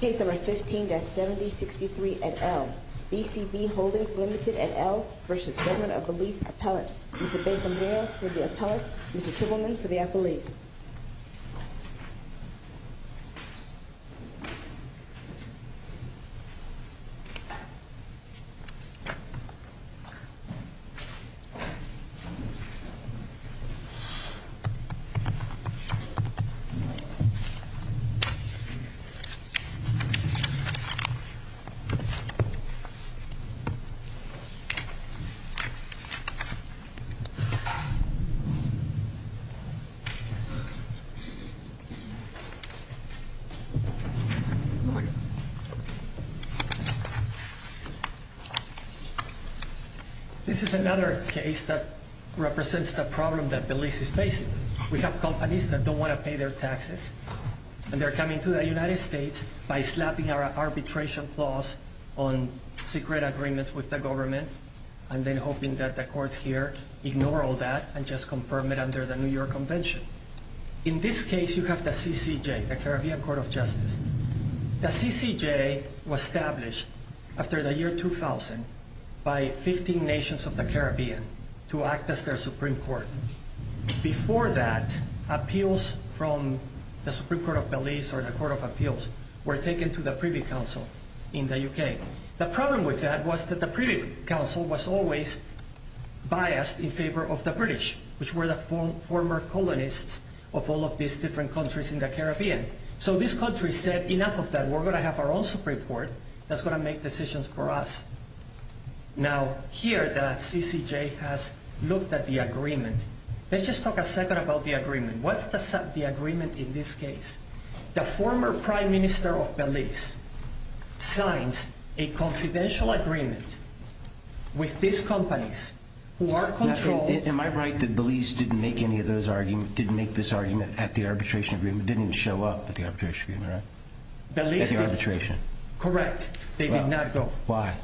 Case number 15-7063 et al. BCB Holdings Limited et al. v. Government of Belize appellate. Mr. Besson-Hoyle for the appellate. Mr. Kimmelman for the appellate. Good morning. This is another case that represents the problem that Belize is facing. We have companies that don't want to pay their taxes. And they're coming to the United States by slapping our arbitration clause on secret agreements with the government and then hoping that the courts here ignore all that and just confirm it under the New York Convention. In this case, you have the CCJ, the Caribbean Court of Justice. The CCJ was established after the year 2000 by 15 nations of the Caribbean to act as their Supreme Court. Before that, appeals from the Supreme Court of Belize or the Court of Appeals were taken to the Privy Council in the UK. The problem with that was that the Privy Council was always biased in favor of the British, which were the former colonists of all of these different countries in the Caribbean. So this country said, enough of that. We're going to have our own Supreme Court that's going to make decisions for us. Now, here the CCJ has looked at the agreement. Let's just talk a second about the agreement. What's the agreement in this case? The former prime minister of Belize signs a confidential agreement with these companies who are controlled. Am I right that Belize didn't make any of those arguments, didn't make this argument at the arbitration agreement, didn't show up at the arbitration agreement, right? Belize did. At the arbitration. Correct. They did not go. Why?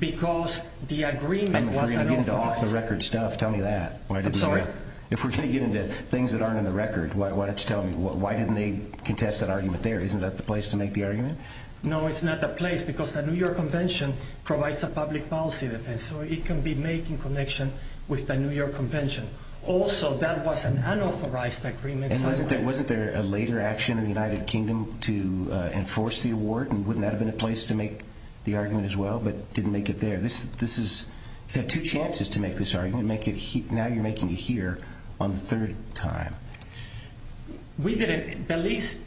Because the agreement was unauthorized. If we're going to get into off-the-record stuff, tell me that. I'm sorry? If we're going to get into things that aren't on the record, why don't you tell me, why didn't they contest that argument there? Isn't that the place to make the argument? No, it's not the place because the New York Convention provides a public policy defense, so it can be making connection with the New York Convention. Also, that was an unauthorized agreement. And wasn't there a later action in the United Kingdom to enforce the award, and wouldn't that have been a place to make the argument as well, but didn't make it there? You had two chances to make this argument. Now you're making it here on the third time. Belize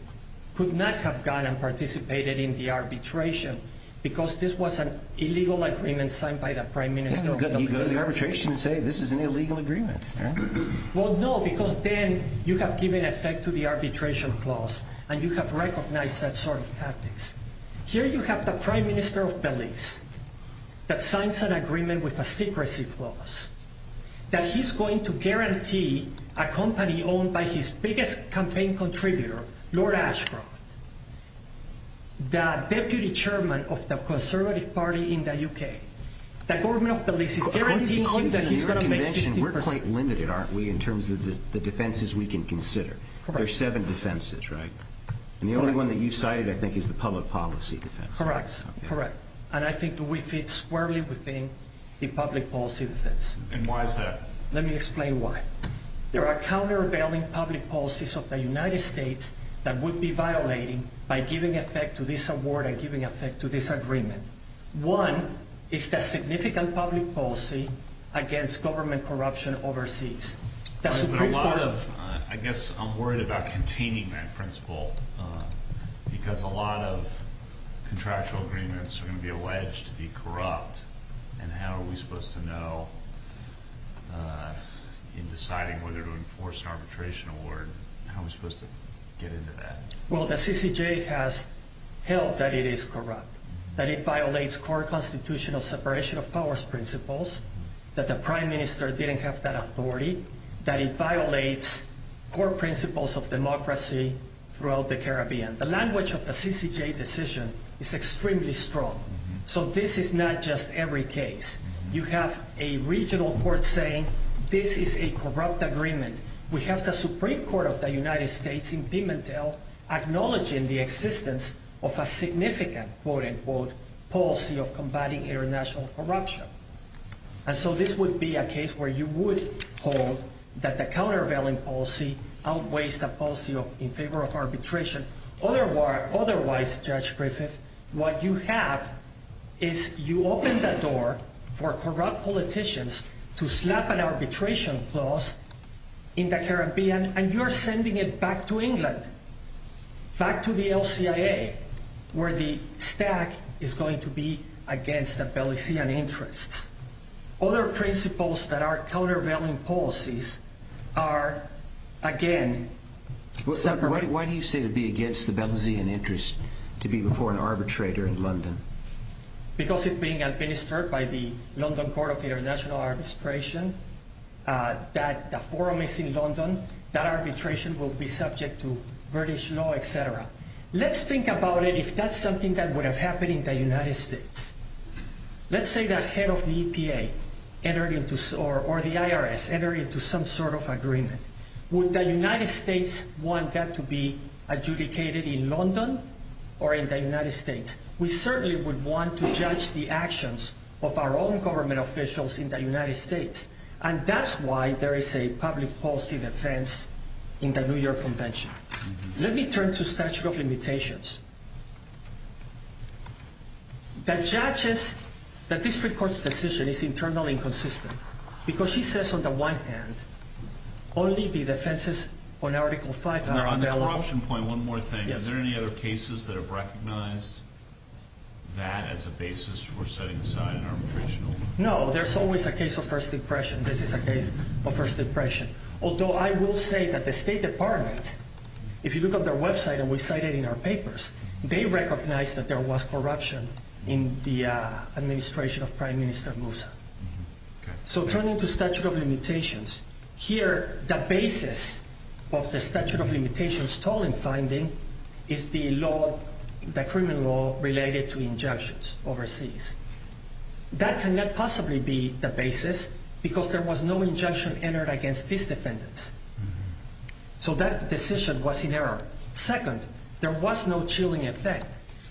could not have gone and participated in the arbitration because this was an illegal agreement signed by the prime minister of Belize. You go to the arbitration and say this is an illegal agreement. Well, no, because then you have given effect to the arbitration clause and you have recognized that sort of tactics. Here you have the prime minister of Belize that signs an agreement with a secrecy clause that he's going to guarantee a company owned by his biggest campaign contributor, Lord Ashcroft, the deputy chairman of the Conservative Party in the UK. According to the New York Convention, we're quite limited, aren't we, in terms of the defenses we can consider. There are seven defenses, right? And the only one that you cited, I think, is the public policy defense. Correct, correct. And I think we fit squarely within the public policy defense. And why is that? Let me explain why. There are countervailing public policies of the United States that would be violating by giving effect to this award and giving effect to this agreement. One is the significant public policy against government corruption overseas. I guess I'm worried about containing that principle because a lot of contractual agreements are going to be alleged to be corrupt. And how are we supposed to know in deciding whether to enforce an arbitration award? How are we supposed to get into that? Well, the CCJ has held that it is corrupt, that it violates core constitutional separation of powers principles, that the prime minister didn't have that authority, that it violates core principles of democracy throughout the Caribbean. The language of the CCJ decision is extremely strong. So this is not just every case. You have a regional court saying this is a corrupt agreement. We have the Supreme Court of the United States in Pimentel acknowledging the existence of a significant, quote-unquote, policy of combating international corruption. And so this would be a case where you would hold that the countervailing policy outweighs the policy in favor of arbitration. Otherwise, Judge Griffith, what you have is you open the door for corrupt politicians to slap an arbitration clause in the Caribbean, and you're sending it back to England, back to the LCIA, where the stack is going to be against the Belizean interests. Other principles that are countervailing policies are, again, separate. Why do you say it would be against the Belizean interest to be before an arbitrator in London? Because it's being administered by the London Court of International Arbitration, that the forum is in London, that arbitration will be subject to British law, et cetera. Let's think about it if that's something that would have happened in the United States. Let's say the head of the EPA or the IRS entered into some sort of agreement. Would the United States want that to be adjudicated in London or in the United States? We certainly would want to judge the actions of our own government officials in the United States, and that's why there is a public policy defense in the New York Convention. Let me turn to statute of limitations. That judges the district court's decision is internally inconsistent because she says on the one hand only the defenses on Article 5 are available. Corruption point, one more thing. Are there any other cases that have recognized that as a basis for setting aside an arbitration? No, there's always a case of First Depression. This is a case of First Depression. Although I will say that the State Department, if you look at their website and we cite it in our papers, they recognize that there was corruption in the administration of Prime Minister Moussa. So turning to statute of limitations, here the basis of the statute of limitations stolen finding is the law, the criminal law related to injunctions overseas. That cannot possibly be the basis because there was no injunction entered against these defendants. So that decision was in error. Second, there was no chilling effect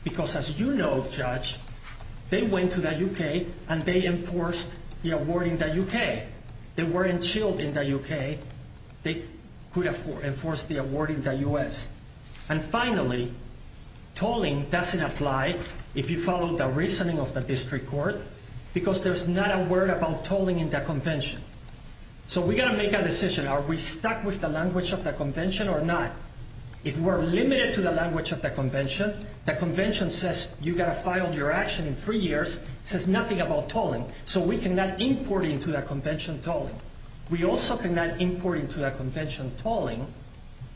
because as you know, Judge, they went to the U.K. and they enforced the award in the U.K. They weren't chilled in the U.K. They could enforce the award in the U.S. And finally, tolling doesn't apply if you follow the reasoning of the district court because there's not a word about tolling in the convention. So we've got to make a decision. Are we stuck with the language of the convention or not? If we're limited to the language of the convention, the convention says you've got to file your action in three years, says nothing about tolling. So we cannot import into that convention tolling. We also cannot import into that convention tolling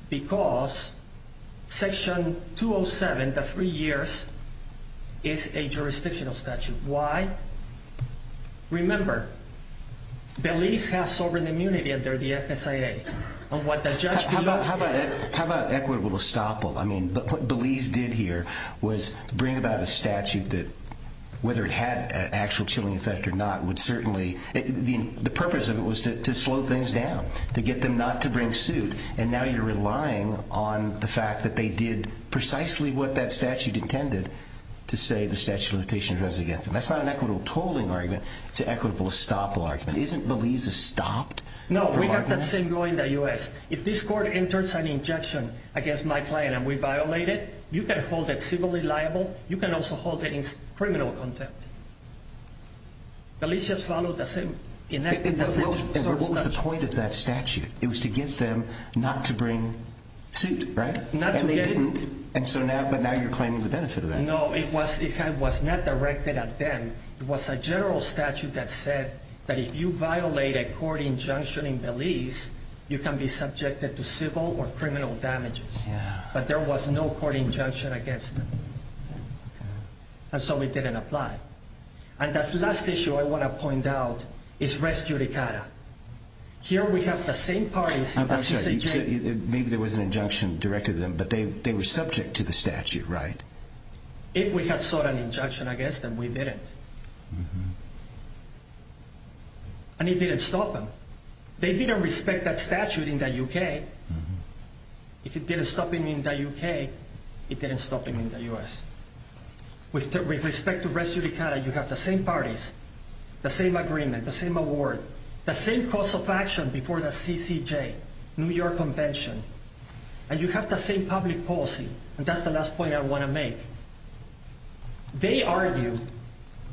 because Section 207, the three years, is a jurisdictional statute. Why? Remember, Belize has sovereign immunity under the FSIA. How about equitable estoppel? Whether it had an actual chilling effect or not would certainly— the purpose of it was to slow things down, to get them not to bring suit, and now you're relying on the fact that they did precisely what that statute intended to say the statute of limitations was against them. That's not an equitable tolling argument. It's an equitable estoppel argument. Isn't Belize estopped? No, we have the same law in the U.S. If this court enters an injection against my client and we violate it, you can hold it civilly liable. You can also hold it in criminal contempt. Belize just followed the same— What was the point of that statute? It was to get them not to bring suit, right? And they didn't, but now you're claiming the benefit of that. No, it was not directed at them. It was a general statute that said that if you violate a court injunction in Belize, you can be subjected to civil or criminal damages. But there was no court injunction against them, and so it didn't apply. And that last issue I want to point out is Res Judicata. Here we have the same parties— I'm sorry, you said maybe there was an injunction directed at them, but they were subject to the statute, right? If we had sought an injunction against them, we didn't. And it didn't stop them. They didn't respect that statute in the U.K. If it didn't stop them in the U.K., it didn't stop them in the U.S. With respect to Res Judicata, you have the same parties, the same agreement, the same award, the same course of action before the CCJ, New York Convention, and you have the same public policy. And that's the last point I want to make. They argue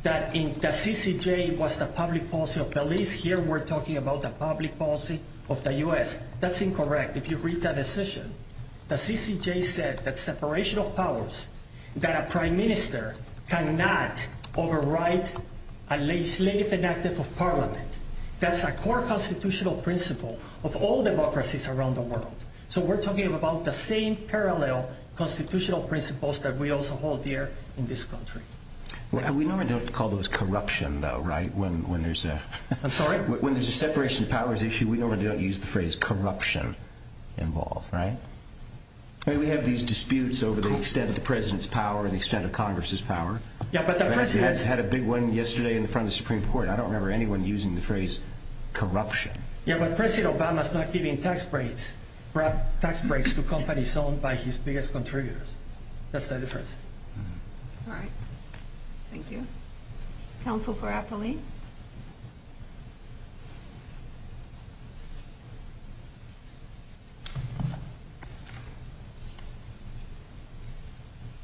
that the CCJ was the public policy of Belize. Here we're talking about the public policy of the U.S. That's incorrect. If you read that decision, the CCJ said that separation of powers, that a prime minister cannot overwrite a legislative enactment of parliament. That's a core constitutional principle of all democracies around the world. So we're talking about the same parallel constitutional principles that we also hold here in this country. We normally don't call those corruption, though, right? I'm sorry? When there's a separation of powers issue, we normally don't use the phrase corruption involved, right? We have these disputes over the extent of the president's power and the extent of Congress's power. We had a big one yesterday in front of the Supreme Court. I don't remember anyone using the phrase corruption. Yeah, but President Obama's not giving tax breaks to companies owned by his biggest contributors. That's the difference. All right. Thank you. Counsel for Apolli?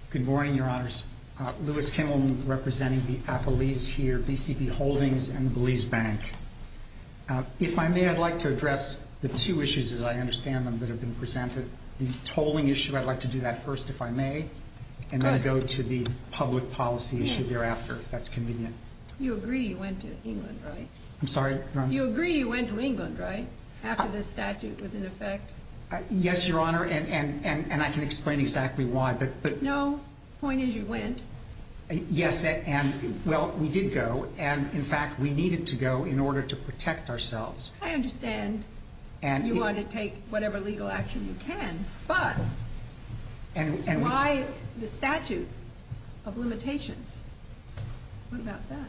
Good morning, Your Honors. Louis Kimmel representing the Apollis here, BCP Holdings, and the Belize Bank. If I may, I'd like to address the two issues, as I understand them, that have been presented. The tolling issue, I'd like to do that first, if I may, and then go to the public policy issue thereafter, if that's convenient. You agree you went to England, right? I'm sorry? You agree you went to England, right, after this statute was in effect? Yes, Your Honor, and I can explain exactly why. No. The point is you went. Yes, and, well, we did go, and, in fact, we needed to go in order to protect ourselves. I understand you want to take whatever legal action you can, but why the statute of limitations? What about that?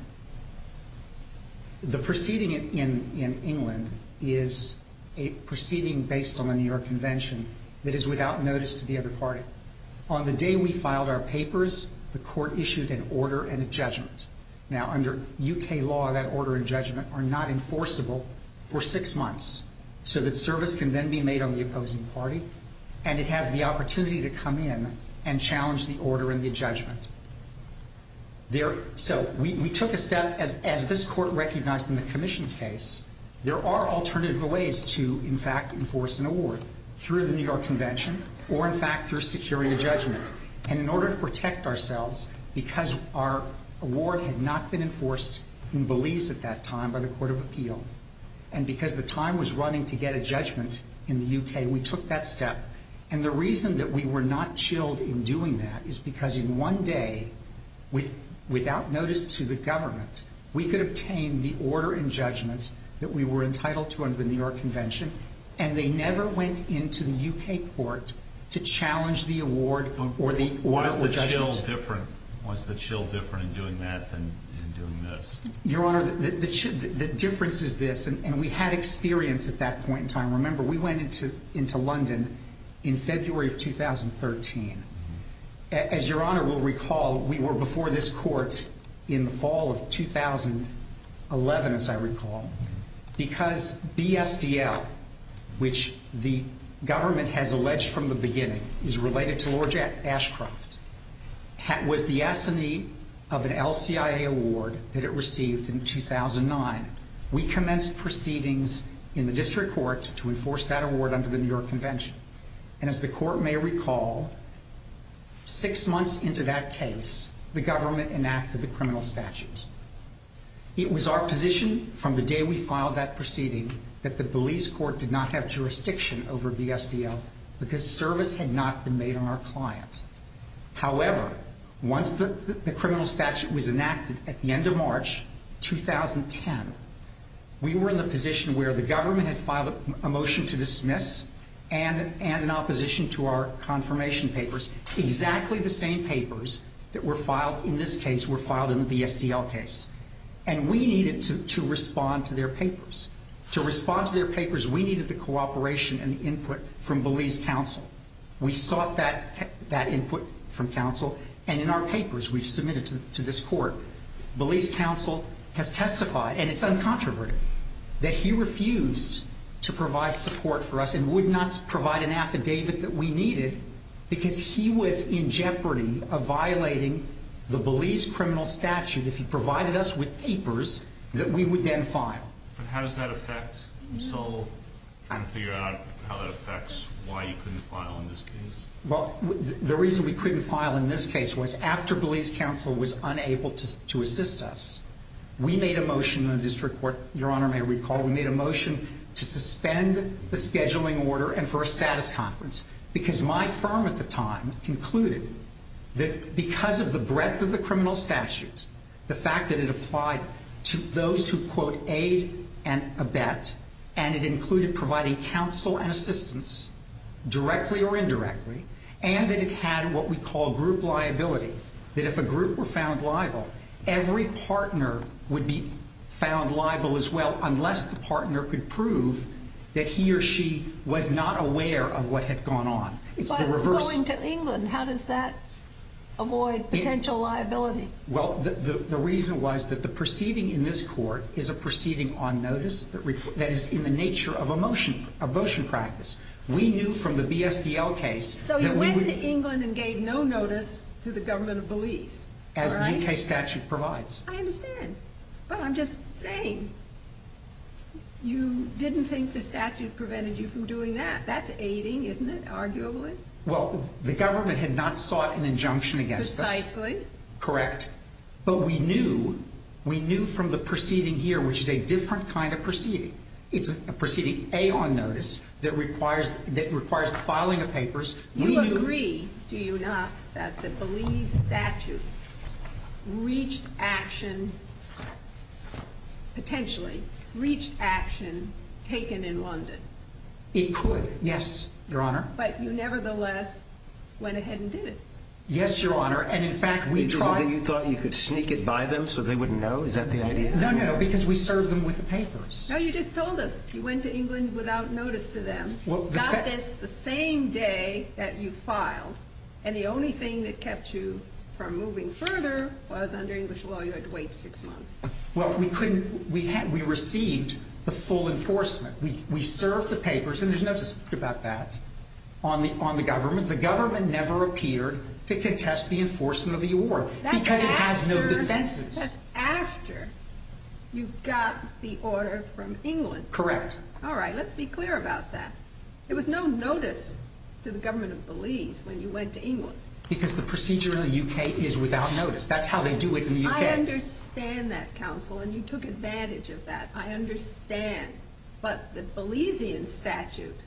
The proceeding in England is a proceeding based on the New York Convention that is without notice to the other party. On the day we filed our papers, the court issued an order and a judgment. Now, under U.K. law, that order and judgment are not enforceable for six months so that service can then be made on the opposing party, and it has the opportunity to come in and challenge the order and the judgment. So we took a step, as this court recognized in the commission's case, there are alternative ways to, in fact, enforce an award, through the New York Convention or, in fact, through securing a judgment. And in order to protect ourselves, because our award had not been enforced in Belize at that time by the Court of Appeal and because the time was running to get a judgment in the U.K., we took that step. And the reason that we were not chilled in doing that is because in one day, without notice to the government, we could obtain the order and judgment that we were entitled to under the New York Convention, and they never went into the U.K. court to challenge the award or the order or judgment. Was the chill different in doing that than in doing this? Your Honor, the difference is this, and we had experience at that point in time. Remember, we went into London in February of 2013. As Your Honor will recall, we were before this court in the fall of 2011, as I recall, because BSDL, which the government has alleged from the beginning is related to Lord Ashcroft, was the assignee of an LCIA award that it received in 2009. We commenced proceedings in the district court to enforce that award under the New York Convention. And as the court may recall, six months into that case, the government enacted the criminal statute. It was our position from the day we filed that proceeding that the Belize court did not have jurisdiction over BSDL because service had not been made on our client. However, once the criminal statute was enacted at the end of March 2010, we were in the position where the government had filed a motion to dismiss and in opposition to our confirmation papers, exactly the same papers that were filed in this case were filed in the BSDL case. And we needed to respond to their papers. To respond to their papers, we needed the cooperation and the input from Belize Council. We sought that input from Council, and in our papers we submitted to this court, Belize Council has testified, and it's uncontroverted, that he refused to provide support for us and would not provide an affidavit that we needed because he was in jeopardy of violating the Belize criminal statute if he provided us with papers that we would then file. But how does that affect? Are you still trying to figure out how that affects why you couldn't file in this case? Well, the reason we couldn't file in this case was after Belize Council was unable to assist us, we made a motion in the district court, Your Honor may recall, we made a motion to suspend the scheduling order and for a status conference because my firm at the time concluded that because of the breadth of the criminal statute, the fact that it applied to those who, quote, aid and abet, and it included providing counsel and assistance, directly or indirectly, and that it had what we call group liability, that if a group were found liable, every partner would be found liable as well unless the partner could prove that he or she was not aware of what had gone on. If I was going to England, how does that avoid potential liability? Well, the reason was that the proceeding in this court is a proceeding on notice that is in the nature of a motion practice. We knew from the BSDL case that we would... So you went to England and gave no notice to the government of Belize, right? As the UK statute provides. I understand. But I'm just saying you didn't think the statute prevented you from doing that. That's aiding, isn't it, arguably? Well, the government had not sought an injunction against us. Precisely. Correct. But we knew from the proceeding here, which is a different kind of proceeding. It's a proceeding, A, on notice that requires filing of papers. You agree, do you not, that the Belize statute reached action, potentially, reached action taken in London? It could, yes, Your Honor. But you nevertheless went ahead and did it. Yes, Your Honor. And, in fact, we tried... You thought you could sneak it by them so they wouldn't know? Is that the idea? No, no, because we served them with the papers. No, you just told us you went to England without notice to them, got this the same day that you filed, and the only thing that kept you from moving further was under English law you had to wait six months. Well, we received the full enforcement. We served the papers, and there's no dispute about that, on the government. The government never appeared to contest the enforcement of the award because it has no defenses. That's after you got the order from England. Correct. All right, let's be clear about that. It was no notice to the government of Belize when you went to England. Because the procedure in the U.K. is without notice. That's how they do it in the U.K. I understand that, counsel, and you took advantage of that. I understand, but the Belizean statute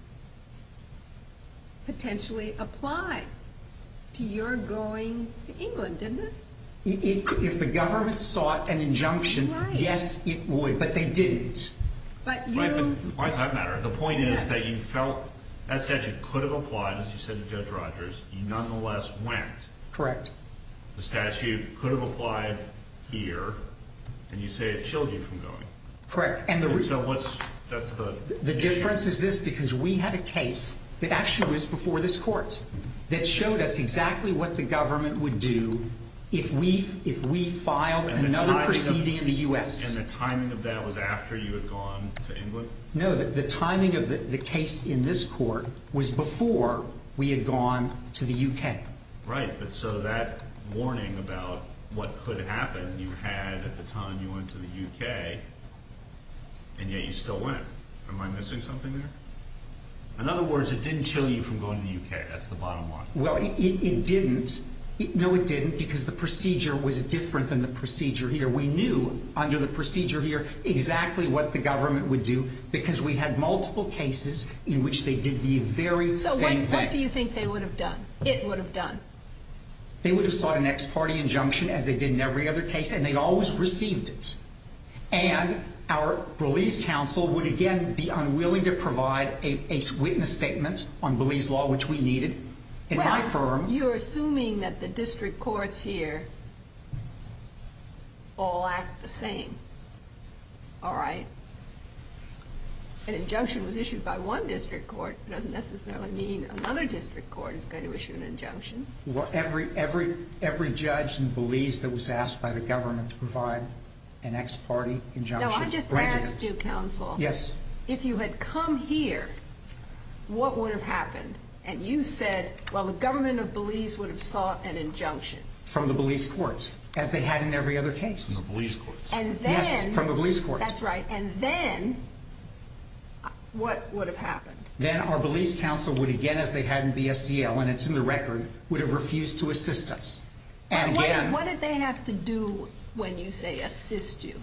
potentially applied to your going to England, didn't it? If the government sought an injunction, yes, it would, but they didn't. Why does that matter? The point is that you felt that statute could have applied, as you said to Judge Rogers, you nonetheless went. Correct. The statute could have applied here, and you say it chilled you from going. Correct. So what's the issue? The difference is this, because we had a case that actually was before this court that showed us exactly what the government would do if we filed another proceeding in the U.S. And the timing of that was after you had gone to England? No, the timing of the case in this court was before we had gone to the U.K. Right. So that warning about what could happen you had at the time you went to the U.K., and yet you still went. Am I missing something there? In other words, it didn't chill you from going to the U.K. That's the bottom line. Well, it didn't. No, it didn't, because the procedure was different than the procedure here. We knew under the procedure here exactly what the government would do because we had multiple cases in which they did the very same thing. So what do you think they would have done? It would have done? They would have sought an ex parte injunction, as they did in every other case, and they always received it. And our Belize Council would again be unwilling to provide a witness statement on Belize law, which we needed. In my firm. You're assuming that the district courts here all act the same. All right. An injunction was issued by one district court doesn't necessarily mean another district court is going to issue an injunction. Well, every judge in Belize that was asked by the government to provide an ex parte injunction granted it. No, I just asked you, Counsel. Yes. If you had come here, what would have happened? And you said, well, the government of Belize would have sought an injunction. From the Belize courts, as they had in every other case. From the Belize courts. Yes, from the Belize courts. That's right. And then what would have happened? Then our Belize Council would again, as they had in BSDL, and it's in the record, would have refused to assist us. What did they have to do when you say assist you?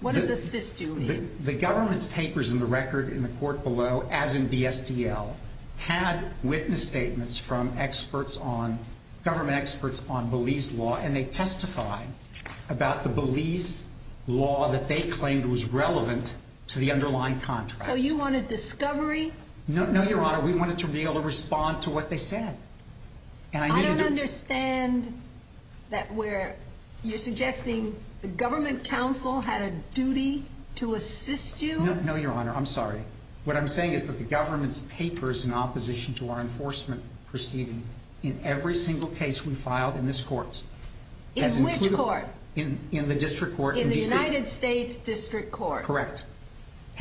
What does assist you mean? The government's papers in the record in the court below, as in BSDL, had witness statements from government experts on Belize law, and they testified about the Belize law that they claimed was relevant to the underlying contract. So you wanted discovery? No, Your Honor. We wanted to be able to respond to what they said. I don't understand that you're suggesting the government counsel had a duty to assist you? No, Your Honor. I'm sorry. What I'm saying is that the government's papers in opposition to our enforcement proceeding in every single case we filed in this court. In which court? In the district court. In the United States District Court. Correct. That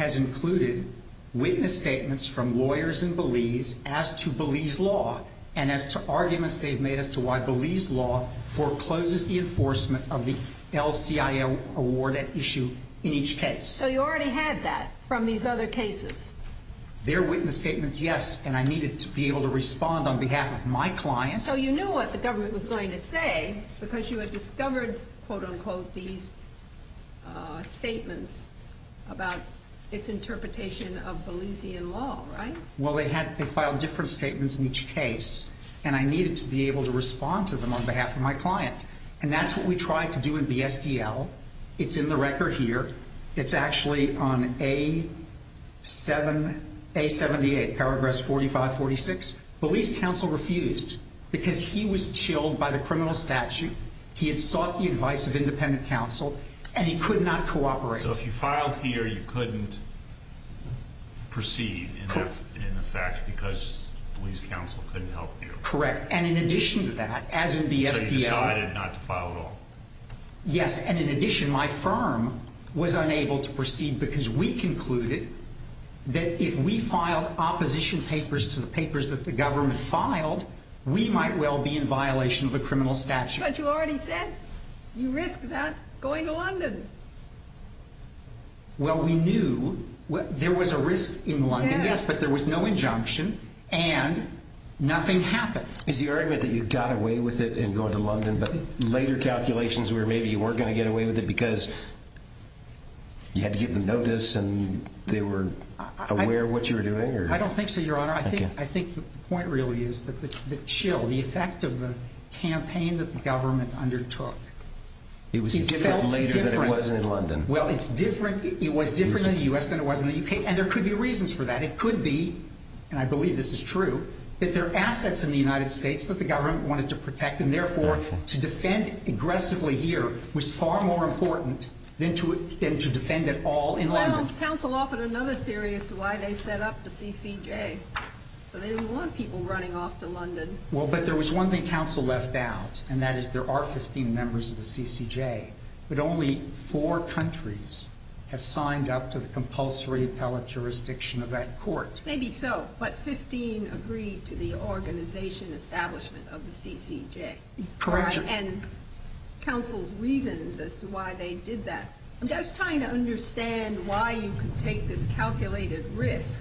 has included witness statements from lawyers in Belize as to Belize law and as to arguments they've made as to why Belize law forecloses the enforcement of the LCIO award at issue in each case. So you already had that from these other cases? Their witness statements, yes, and I needed to be able to respond on behalf of my clients. So you knew what the government was going to say because you had discovered, quote-unquote, these statements about its interpretation of Belizean law, right? Well, they filed different statements in each case, and I needed to be able to respond to them on behalf of my client. And that's what we tried to do in BSDL. It's in the record here. It's actually on A78, paragraph 4546. Belize counsel refused because he was chilled by the criminal statute. He had sought the advice of independent counsel, and he could not cooperate. So if you filed here, you couldn't proceed in effect because Belize counsel couldn't help you? Correct, and in addition to that, as in BSDL. So you decided not to file at all? Yes, and in addition, my firm was unable to proceed because we concluded that if we filed opposition papers to the papers that the government filed, we might well be in violation of the criminal statute. But you already said you risked that going to London. Well, we knew there was a risk in London, yes, but there was no injunction, and nothing happened. Is the argument that you got away with it in going to London, but later calculations were maybe you weren't going to get away with it because you had to give them notice and they were aware of what you were doing? I don't think so, Your Honor. Your Honor, I think the point really is that the chill, the effect of the campaign that the government undertook felt different. It was different later than it was in London. Well, it's different. It was different in the U.S. than it was in the U.K., and there could be reasons for that. It could be, and I believe this is true, that there are assets in the United States that the government wanted to protect, and therefore to defend aggressively here was far more important than to defend at all in London. Well, counsel offered another theory as to why they set up the CCJ. So they didn't want people running off to London. Well, but there was one thing counsel left out, and that is there are 15 members of the CCJ, but only four countries have signed up to the compulsory appellate jurisdiction of that court. Maybe so, but 15 agreed to the organization establishment of the CCJ. Correction. And counsel's reasons as to why they did that. I'm just trying to understand why you could take this calculated risk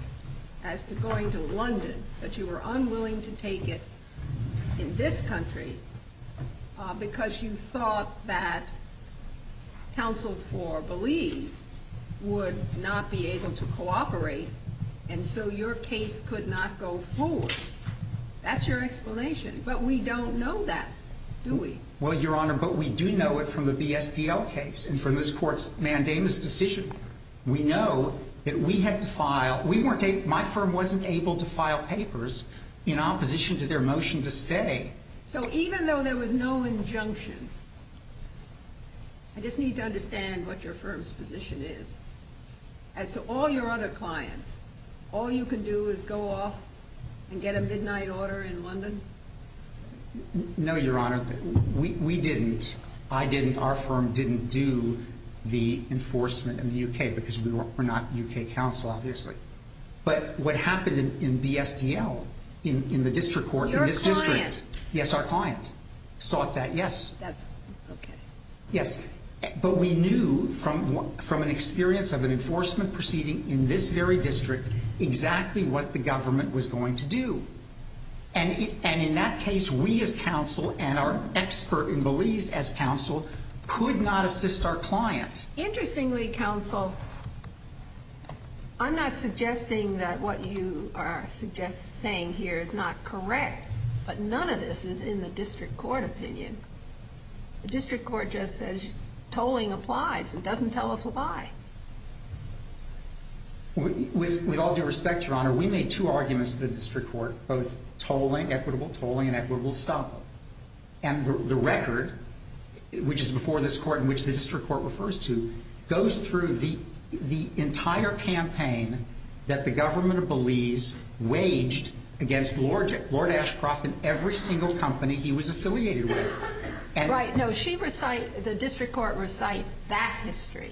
as to going to London, but you were unwilling to take it in this country because you thought that counsel for Belize would not be able to cooperate, and so your case could not go forward. That's your explanation, but we don't know that, do we? Well, Your Honor, but we do know it from the BSDL case and from this court's mandamus decision. We know that we had to file. My firm wasn't able to file papers in opposition to their motion to stay. So even though there was no injunction, I just need to understand what your firm's position is. As to all your other clients, all you can do is go off and get a midnight order in London? No, Your Honor. We didn't. I didn't. Our firm didn't do the enforcement in the U.K. because we're not U.K. counsel, obviously. But what happened in BSDL in the district court in this district. Your client. Yes, our client sought that, yes. That's okay. Yes, but we knew from an experience of an enforcement proceeding in this very district exactly what the government was going to do. And in that case, we as counsel and our expert in Belize as counsel could not assist our client. Interestingly, counsel, I'm not suggesting that what you are saying here is not correct, but none of this is in the district court opinion. The district court just says tolling applies. It doesn't tell us why. With all due respect, Your Honor, we made two arguments in the district court, both tolling, equitable tolling, and equitable stop. And the record, which is before this court and which the district court refers to, goes through the entire campaign that the government of Belize waged against Lord Ashcroft and every single company he was affiliated with. Right. No, the district court recites that history.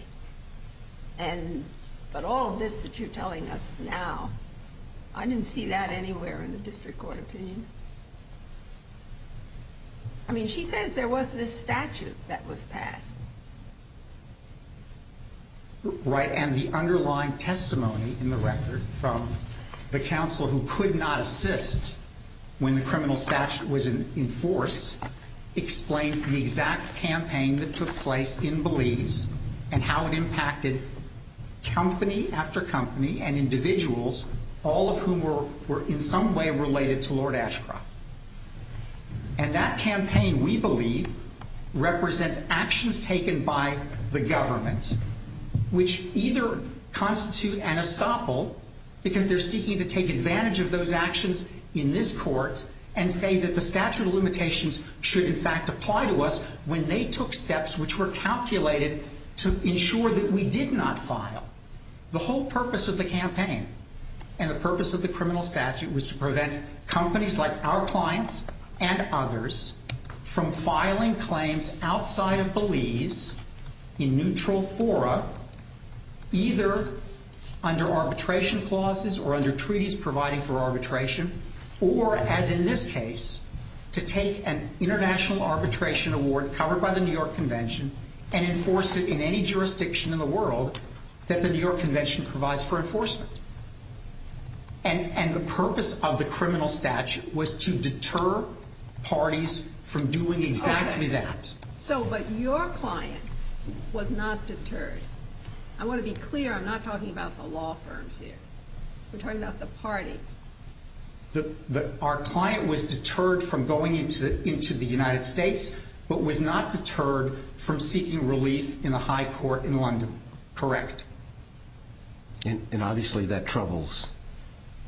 But all of this that you're telling us now, I didn't see that anywhere in the district court opinion. I mean, she says there was this statute that was passed. Right, and the underlying testimony in the record from the counsel who could not assist when the criminal statute was in force explains the exact campaign that took place in Belize and how it impacted company after company and individuals, all of whom were in some way related to Lord Ashcroft. And that campaign, we believe, represents actions taken by the government, which either constitute an estoppel because they're seeking to take advantage of those actions in this court and say that the statute of limitations should, in fact, apply to us when they took steps which were calculated to ensure that we did not file. The whole purpose of the campaign and the purpose of the criminal statute was to prevent companies like our clients and others from filing claims outside of Belize in neutral fora, either under arbitration clauses or under treaties providing for arbitration, or, as in this case, to take an international arbitration award covered by the New York Convention and enforce it in any jurisdiction in the world that the New York Convention provides for enforcement. And the purpose of the criminal statute was to deter parties from doing exactly that. So, but your client was not deterred. I want to be clear, I'm not talking about the law firms here. We're talking about the parties. Our client was deterred from going into the United States, but was not deterred from seeking relief in a high court in London, correct? And obviously that troubles,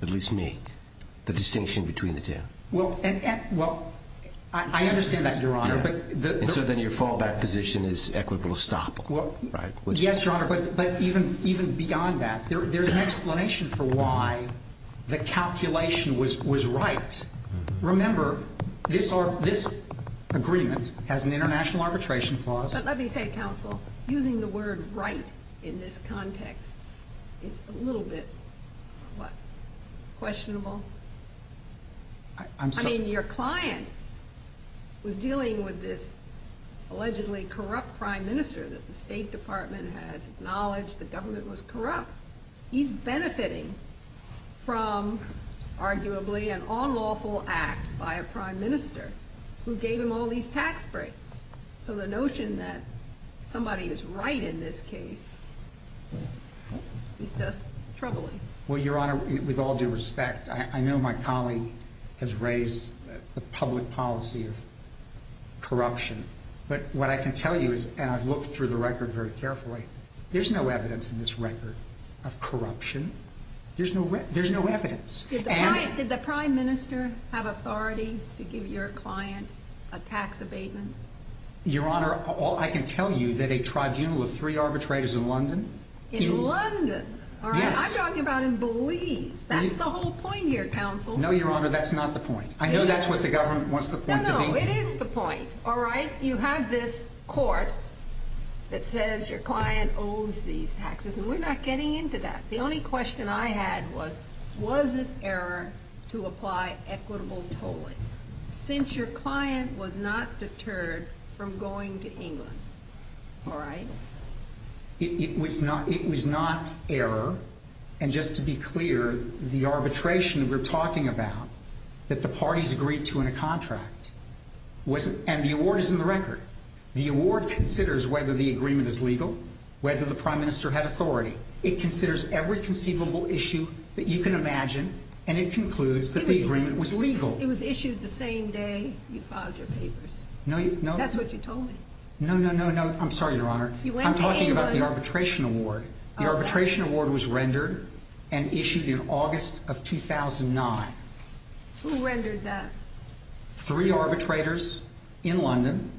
at least me, the distinction between the two. Well, I understand that, Your Honor. And so then your fallback position is equitable estoppel, right? Yes, Your Honor, but even beyond that, there's an explanation for why the calculation was right. Remember, this agreement has an international arbitration clause. But let me say, counsel, using the word right in this context is a little bit, what, questionable? I mean, your client was dealing with this allegedly corrupt prime minister that the State Department has acknowledged the government was corrupt. He's benefiting from, arguably, an unlawful act by a prime minister who gave him all these tax breaks. So the notion that somebody is right in this case is just troubling. Well, Your Honor, with all due respect, I know my colleague has raised the public policy of corruption. But what I can tell you is, and I've looked through the record very carefully, there's no evidence in this record of corruption. There's no evidence. Did the prime minister have authority to give your client a tax abatement? Your Honor, all I can tell you that a tribunal of three arbitrators in London... In London? I'm talking about in Belize. That's the whole point here, counsel. No, Your Honor, that's not the point. I know that's what the government wants the point to be. No, no, it is the point, all right? You have this court that says your client owes these taxes, and we're not getting into that. The only question I had was, was it error to apply equitable tolling, since your client was not deterred from going to England, all right? It was not error. And just to be clear, the arbitration we're talking about, that the parties agreed to in a contract, and the award is in the record. The award considers whether the agreement is legal, whether the prime minister had authority. It considers every conceivable issue that you can imagine, and it concludes that the agreement was legal. It was issued the same day you filed your papers. That's what you told me. No, no, no, no. I'm sorry, Your Honor. I'm talking about the arbitration award. The arbitration award was rendered and issued in August of 2009. Who rendered that? Three arbitrators in London.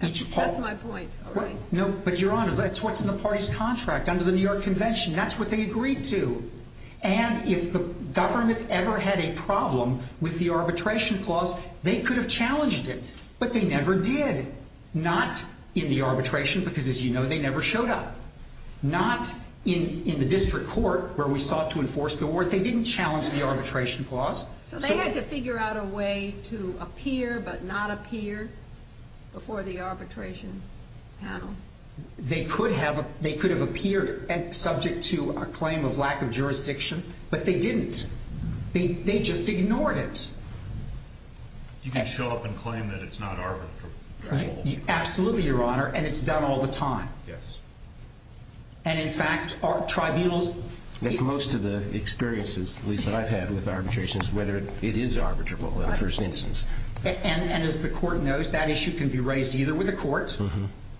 That's my point, all right. No, but, Your Honor, that's what's in the party's contract under the New York Convention. That's what they agreed to. And if the government ever had a problem with the arbitration clause, they could have challenged it. But they never did. Not in the arbitration, because, as you know, they never showed up. Not in the district court, where we sought to enforce the award. They didn't challenge the arbitration clause. So they had to figure out a way to appear but not appear before the arbitration panel. They could have appeared subject to a claim of lack of jurisdiction, but they didn't. They just ignored it. You can show up and claim that it's not arbitrable. Absolutely, Your Honor, and it's done all the time. Yes. And, in fact, tribunals... Most of the experiences, at least, that I've had with arbitrations, whether it is arbitrable in the first instance. And, as the court knows, that issue can be raised either with a court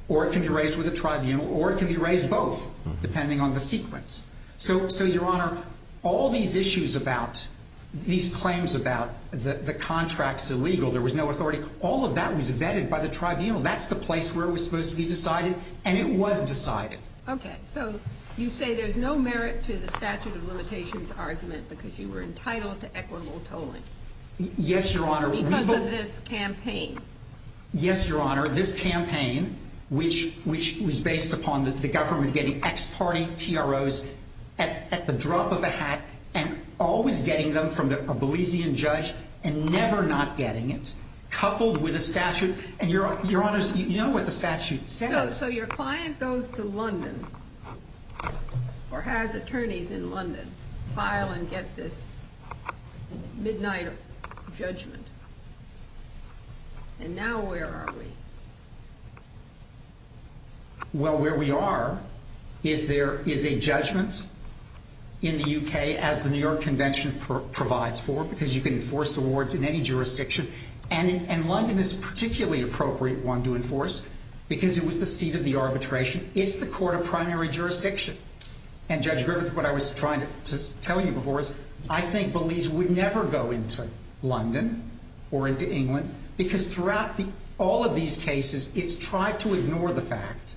or it can be raised with a tribunal or it can be raised both, depending on the sequence. So, Your Honor, all these issues about these claims about the contract's illegal, there was no authority, all of that was vetted by the tribunal. That's the place where it was supposed to be decided, and it was decided. Okay. So you say there's no merit to the statute of limitations argument because you were entitled to equitable tolling. Yes, Your Honor. Because of this campaign. Yes, Your Honor. This campaign, which was based upon the government getting ex-party TROs at the drop of a hat and always getting them from a Belizean judge and never not getting it, coupled with a statute. And, Your Honor, you know what the statute says. So your client goes to London or has attorneys in London file and get this midnight judgment. And now where are we? Well, where we are is there is a judgment in the U.K., as the New York Convention provides for, because you can enforce awards in any jurisdiction. And London is a particularly appropriate one to enforce because it was the seat of the arbitration. It's the court of primary jurisdiction. And, Judge Griffith, what I was trying to tell you before is I think Belize would never go into London or into England because throughout all of these cases it's tried to ignore the fact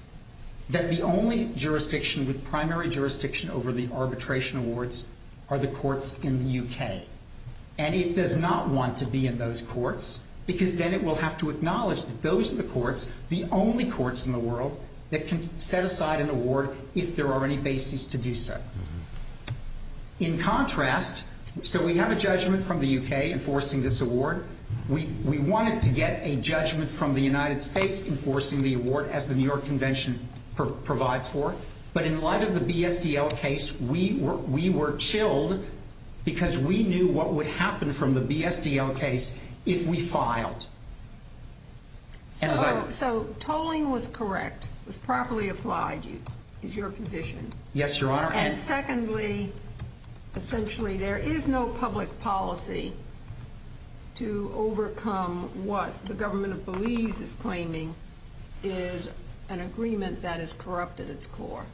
that the only jurisdiction with primary jurisdiction over the arbitration awards are the courts in the U.K. And it does not want to be in those courts because then it will have to acknowledge that those are the courts, the only courts in the world, that can set aside an award if there are any bases to do so. In contrast, so we have a judgment from the U.K. enforcing this award. We wanted to get a judgment from the United States enforcing the award, as the New York Convention provides for. But in light of the BSDL case, we were chilled because we knew what would happen from the BSDL case if we filed. So tolling was correct, was properly applied, is your position? Yes, Your Honor. And secondly, essentially, there is no public policy to overcome what the government of Belize is claiming is an agreement that is corrupt at its core.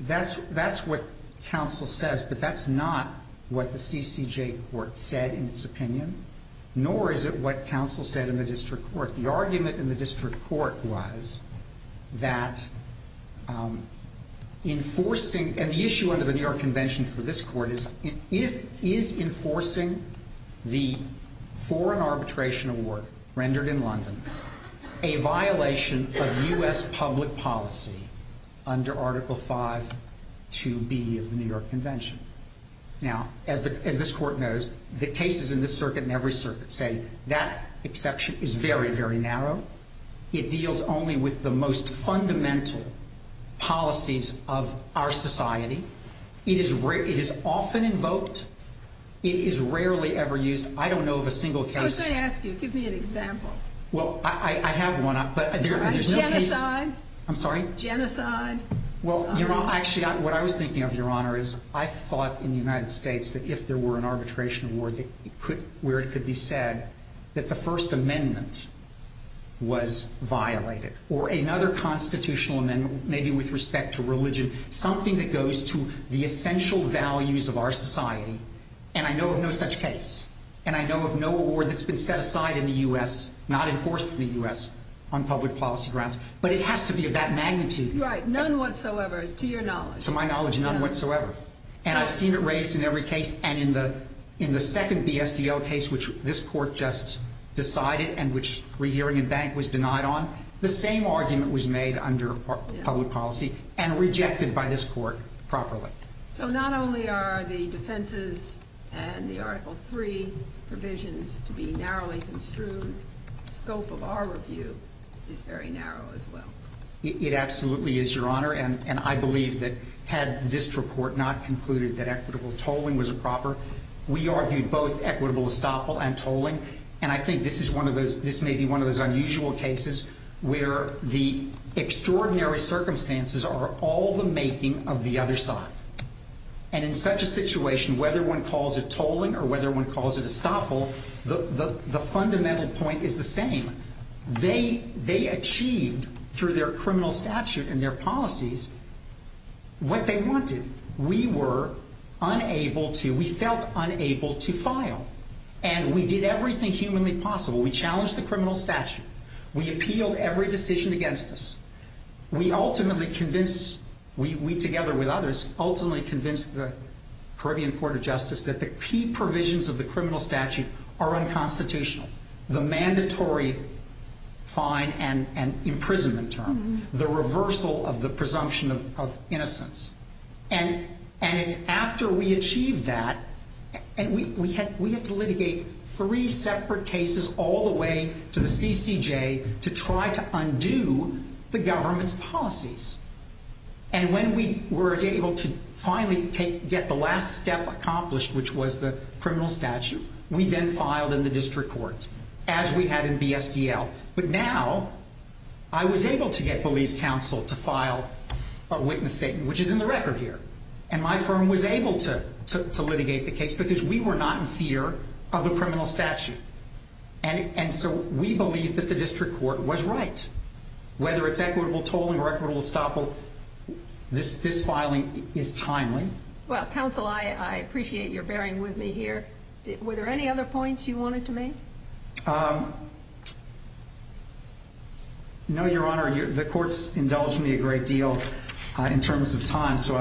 That's what counsel says, but that's not what the CCJ court said in its opinion, nor is it what counsel said in the district court. The argument in the district court was that enforcing, and the issue under the New York Convention for this court is, is enforcing the foreign arbitration award rendered in London a violation of U.S. public policy under Article 5 2B of the New York Convention? Now, as this court knows, the cases in this circuit and every circuit say that exception is very, very narrow. It deals only with the most fundamental policies of our society. It is often invoked. It is rarely ever used. I don't know of a single case. Let me ask you. Give me an example. Well, I have one, but there's no case. Genocide. I'm sorry? Genocide. Well, actually, what I was thinking of, Your Honor, is I thought in the United States that if there were an arbitration award where it could be said that the First Amendment was violated, or another constitutional amendment, maybe with respect to religion, something that goes to the essential values of our society. And I know of no such case. And I know of no award that's been set aside in the U.S., not enforced in the U.S., on public policy grounds. But it has to be of that magnitude. Right. None whatsoever, to your knowledge. To my knowledge, none whatsoever. And I've seen it raised in every case. And in the second BSDL case, which this Court just decided and which Rehearing and Bank was denied on, the same argument was made under public policy and rejected by this Court properly. So not only are the defenses and the Article III provisions to be narrowly construed, the scope of our review is very narrow as well. It absolutely is, Your Honor. And I believe that had this report not concluded that equitable tolling was improper, we argued both equitable estoppel and tolling. And I think this may be one of those unusual cases where the extraordinary circumstances are all the making of the other side. And in such a situation, whether one calls it tolling or whether one calls it estoppel, the fundamental point is the same. They achieved through their criminal statute and their policies what they wanted. We were unable to, we felt unable to file. And we did everything humanly possible. We challenged the criminal statute. We appealed every decision against us. We ultimately convinced, we together with others, ultimately convinced the Caribbean Court of Justice that the key provisions of the criminal statute are unconstitutional. The mandatory fine and imprisonment term. The reversal of the presumption of innocence. And it's after we achieved that, and we had to litigate three separate cases all the way to the CCJ to try to undo the government's policies. And when we were able to finally get the last step accomplished, which was the criminal statute, we then filed in the district court, as we had in BSDL. But now I was able to get police counsel to file a witness statement, which is in the record here. And my firm was able to litigate the case because we were not in fear of a criminal statute. And so we believe that the district court was right. Whether it's equitable tolling or equitable estoppel, this filing is timely. Well, counsel, I appreciate your bearing with me here. Were there any other points you wanted to make? No, Your Honor. The court's indulged me a great deal in terms of time. So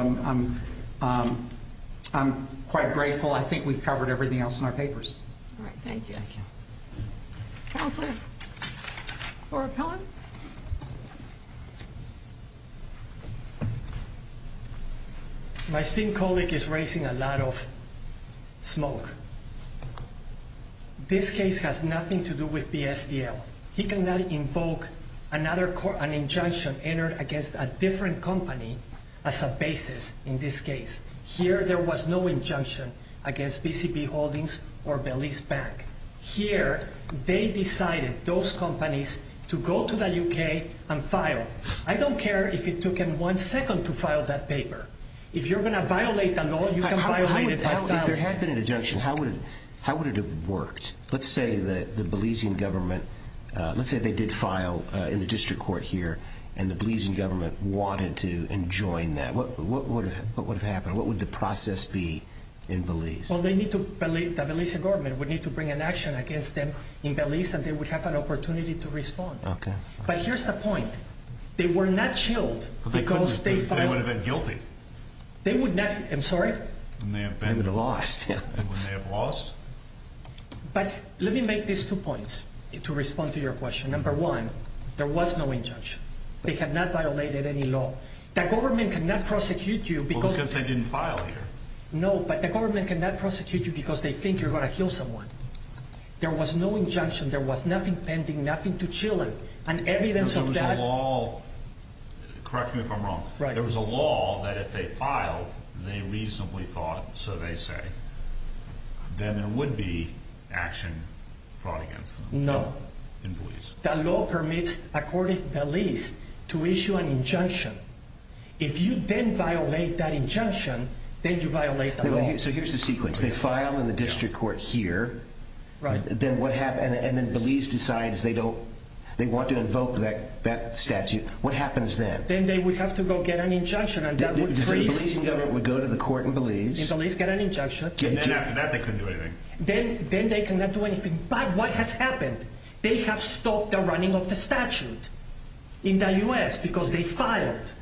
I'm quite grateful. I think we've covered everything else in our papers. All right. Thank you. Counsel for appellant? My esteemed colleague is raising a lot of smoke. This case has nothing to do with BSDL. He cannot invoke an injunction entered against a different company as a basis in this case. Here there was no injunction against BCB Holdings or Belize Bank. Here they decided those companies to go to the U.K. and file. I don't care if it took them one second to file that paper. If you're going to violate the law, you can violate it by filing. If there had been an injunction, how would it have worked? Let's say the Belizean government, let's say they did file in the district court here, and the Belizean government wanted to enjoin that. What would have happened? What would the process be in Belize? The Belizean government would need to bring an action against them in Belize, and they would have an opportunity to respond. Okay. But here's the point. They were not chilled because they filed. They would have been guilty. I'm sorry? They would have lost. They would have lost. But let me make these two points to respond to your question. Number one, there was no injunction. They had not violated any law. The government cannot prosecute you because they didn't file here. No, but the government cannot prosecute you because they think you're going to kill someone. There was no injunction. There was nothing pending, nothing to chill them, and evidence of that. There was a law. Correct me if I'm wrong. Right. There was a law that if they filed, they reasonably thought so they say, then there would be action brought against them in Belize. That law permits a court in Belize to issue an injunction. If you then violate that injunction, then you violate the law. So here's the sequence. They file in the district court here. Right. Then what happens? And then Belize decides they want to invoke that statute. What happens then? Then they would have to go get an injunction, and that would freeze. The Belizean government would go to the court in Belize. In Belize, get an injunction. And then after that, they couldn't do anything. Then they cannot do anything. But what has happened? They have stopped the running of the statute in the U.S. because they filed.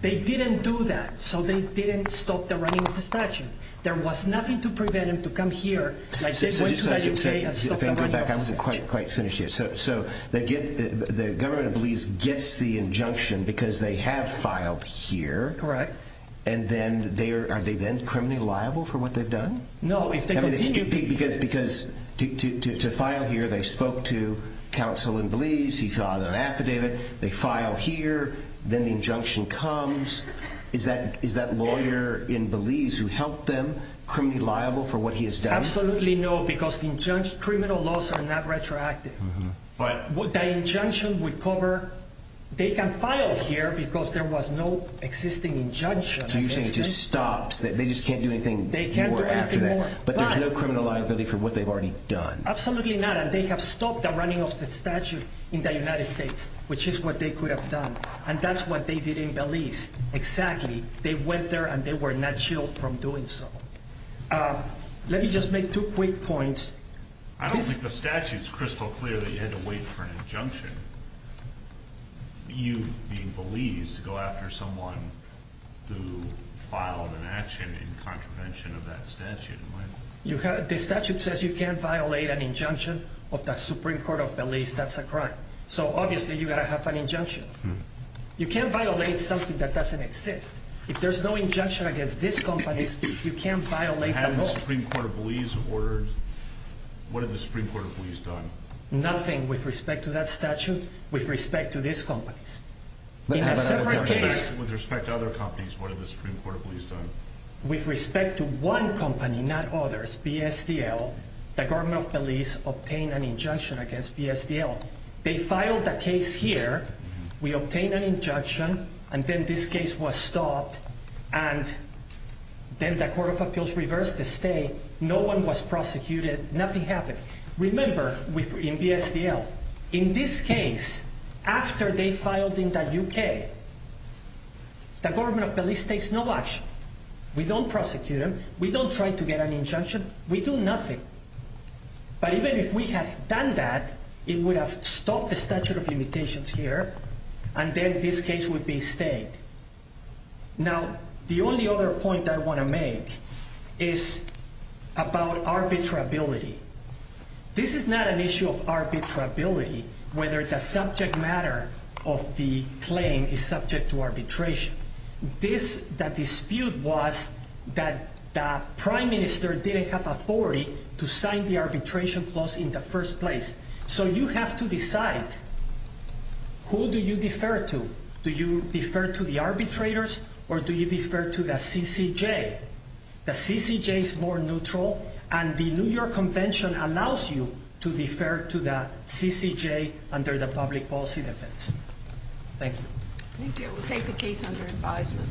They didn't do that, so they didn't stop the running of the statute. There was nothing to prevent them to come here like they went to the U.K. and stopped the running of the statute. If I can go back, I wasn't quite finished yet. So the government of Belize gets the injunction because they have filed here. Correct. And then are they then criminally liable for what they've done? No. Because to file here, they spoke to counsel in Belize. He filed an affidavit. They filed here. Then the injunction comes. Is that lawyer in Belize who helped them criminally liable for what he has done? Absolutely no, because the criminal laws are not retroactive. But the injunction would cover. They can file here because there was no existing injunction. So you're saying it just stops. They just can't do anything more after that. But there's no criminal liability for what they've already done. Absolutely not. And they have stopped the running of the statute in the United States, which is what they could have done. And that's what they did in Belize. Exactly. They went there, and they were not shielded from doing so. Let me just make two quick points. You being Belize to go after someone who filed an action in contravention of that statute. The statute says you can't violate an injunction of the Supreme Court of Belize. That's a crime. So, obviously, you've got to have an injunction. You can't violate something that doesn't exist. If there's no injunction against this company, you can't violate the law. Had the Supreme Court of Belize ordered? What had the Supreme Court of Belize done? Nothing with respect to that statute, with respect to these companies. With respect to other companies, what had the Supreme Court of Belize done? With respect to one company, not others, BSDL, the government of Belize obtained an injunction against BSDL. They filed a case here. We obtained an injunction, and then this case was stopped. And then the Court of Appeals reversed the state. No one was prosecuted. Nothing happened. Remember, in BSDL, in this case, after they filed in the U.K., the government of Belize takes no action. We don't prosecute them. We don't try to get an injunction. We do nothing. But even if we had done that, it would have stopped the statute of limitations here, and then this case would be stayed. Now, the only other point that I want to make is about arbitrability. This is not an issue of arbitrability, whether the subject matter of the claim is subject to arbitration. That dispute was that the prime minister didn't have authority to sign the arbitration clause in the first place. So you have to decide who do you defer to. Do you defer to the arbitrators, or do you defer to the CCJ? The CCJ is more neutral, and the New York Convention allows you to defer to the CCJ under the public policy defense. Thank you. Thank you. We'll take the case under advisement.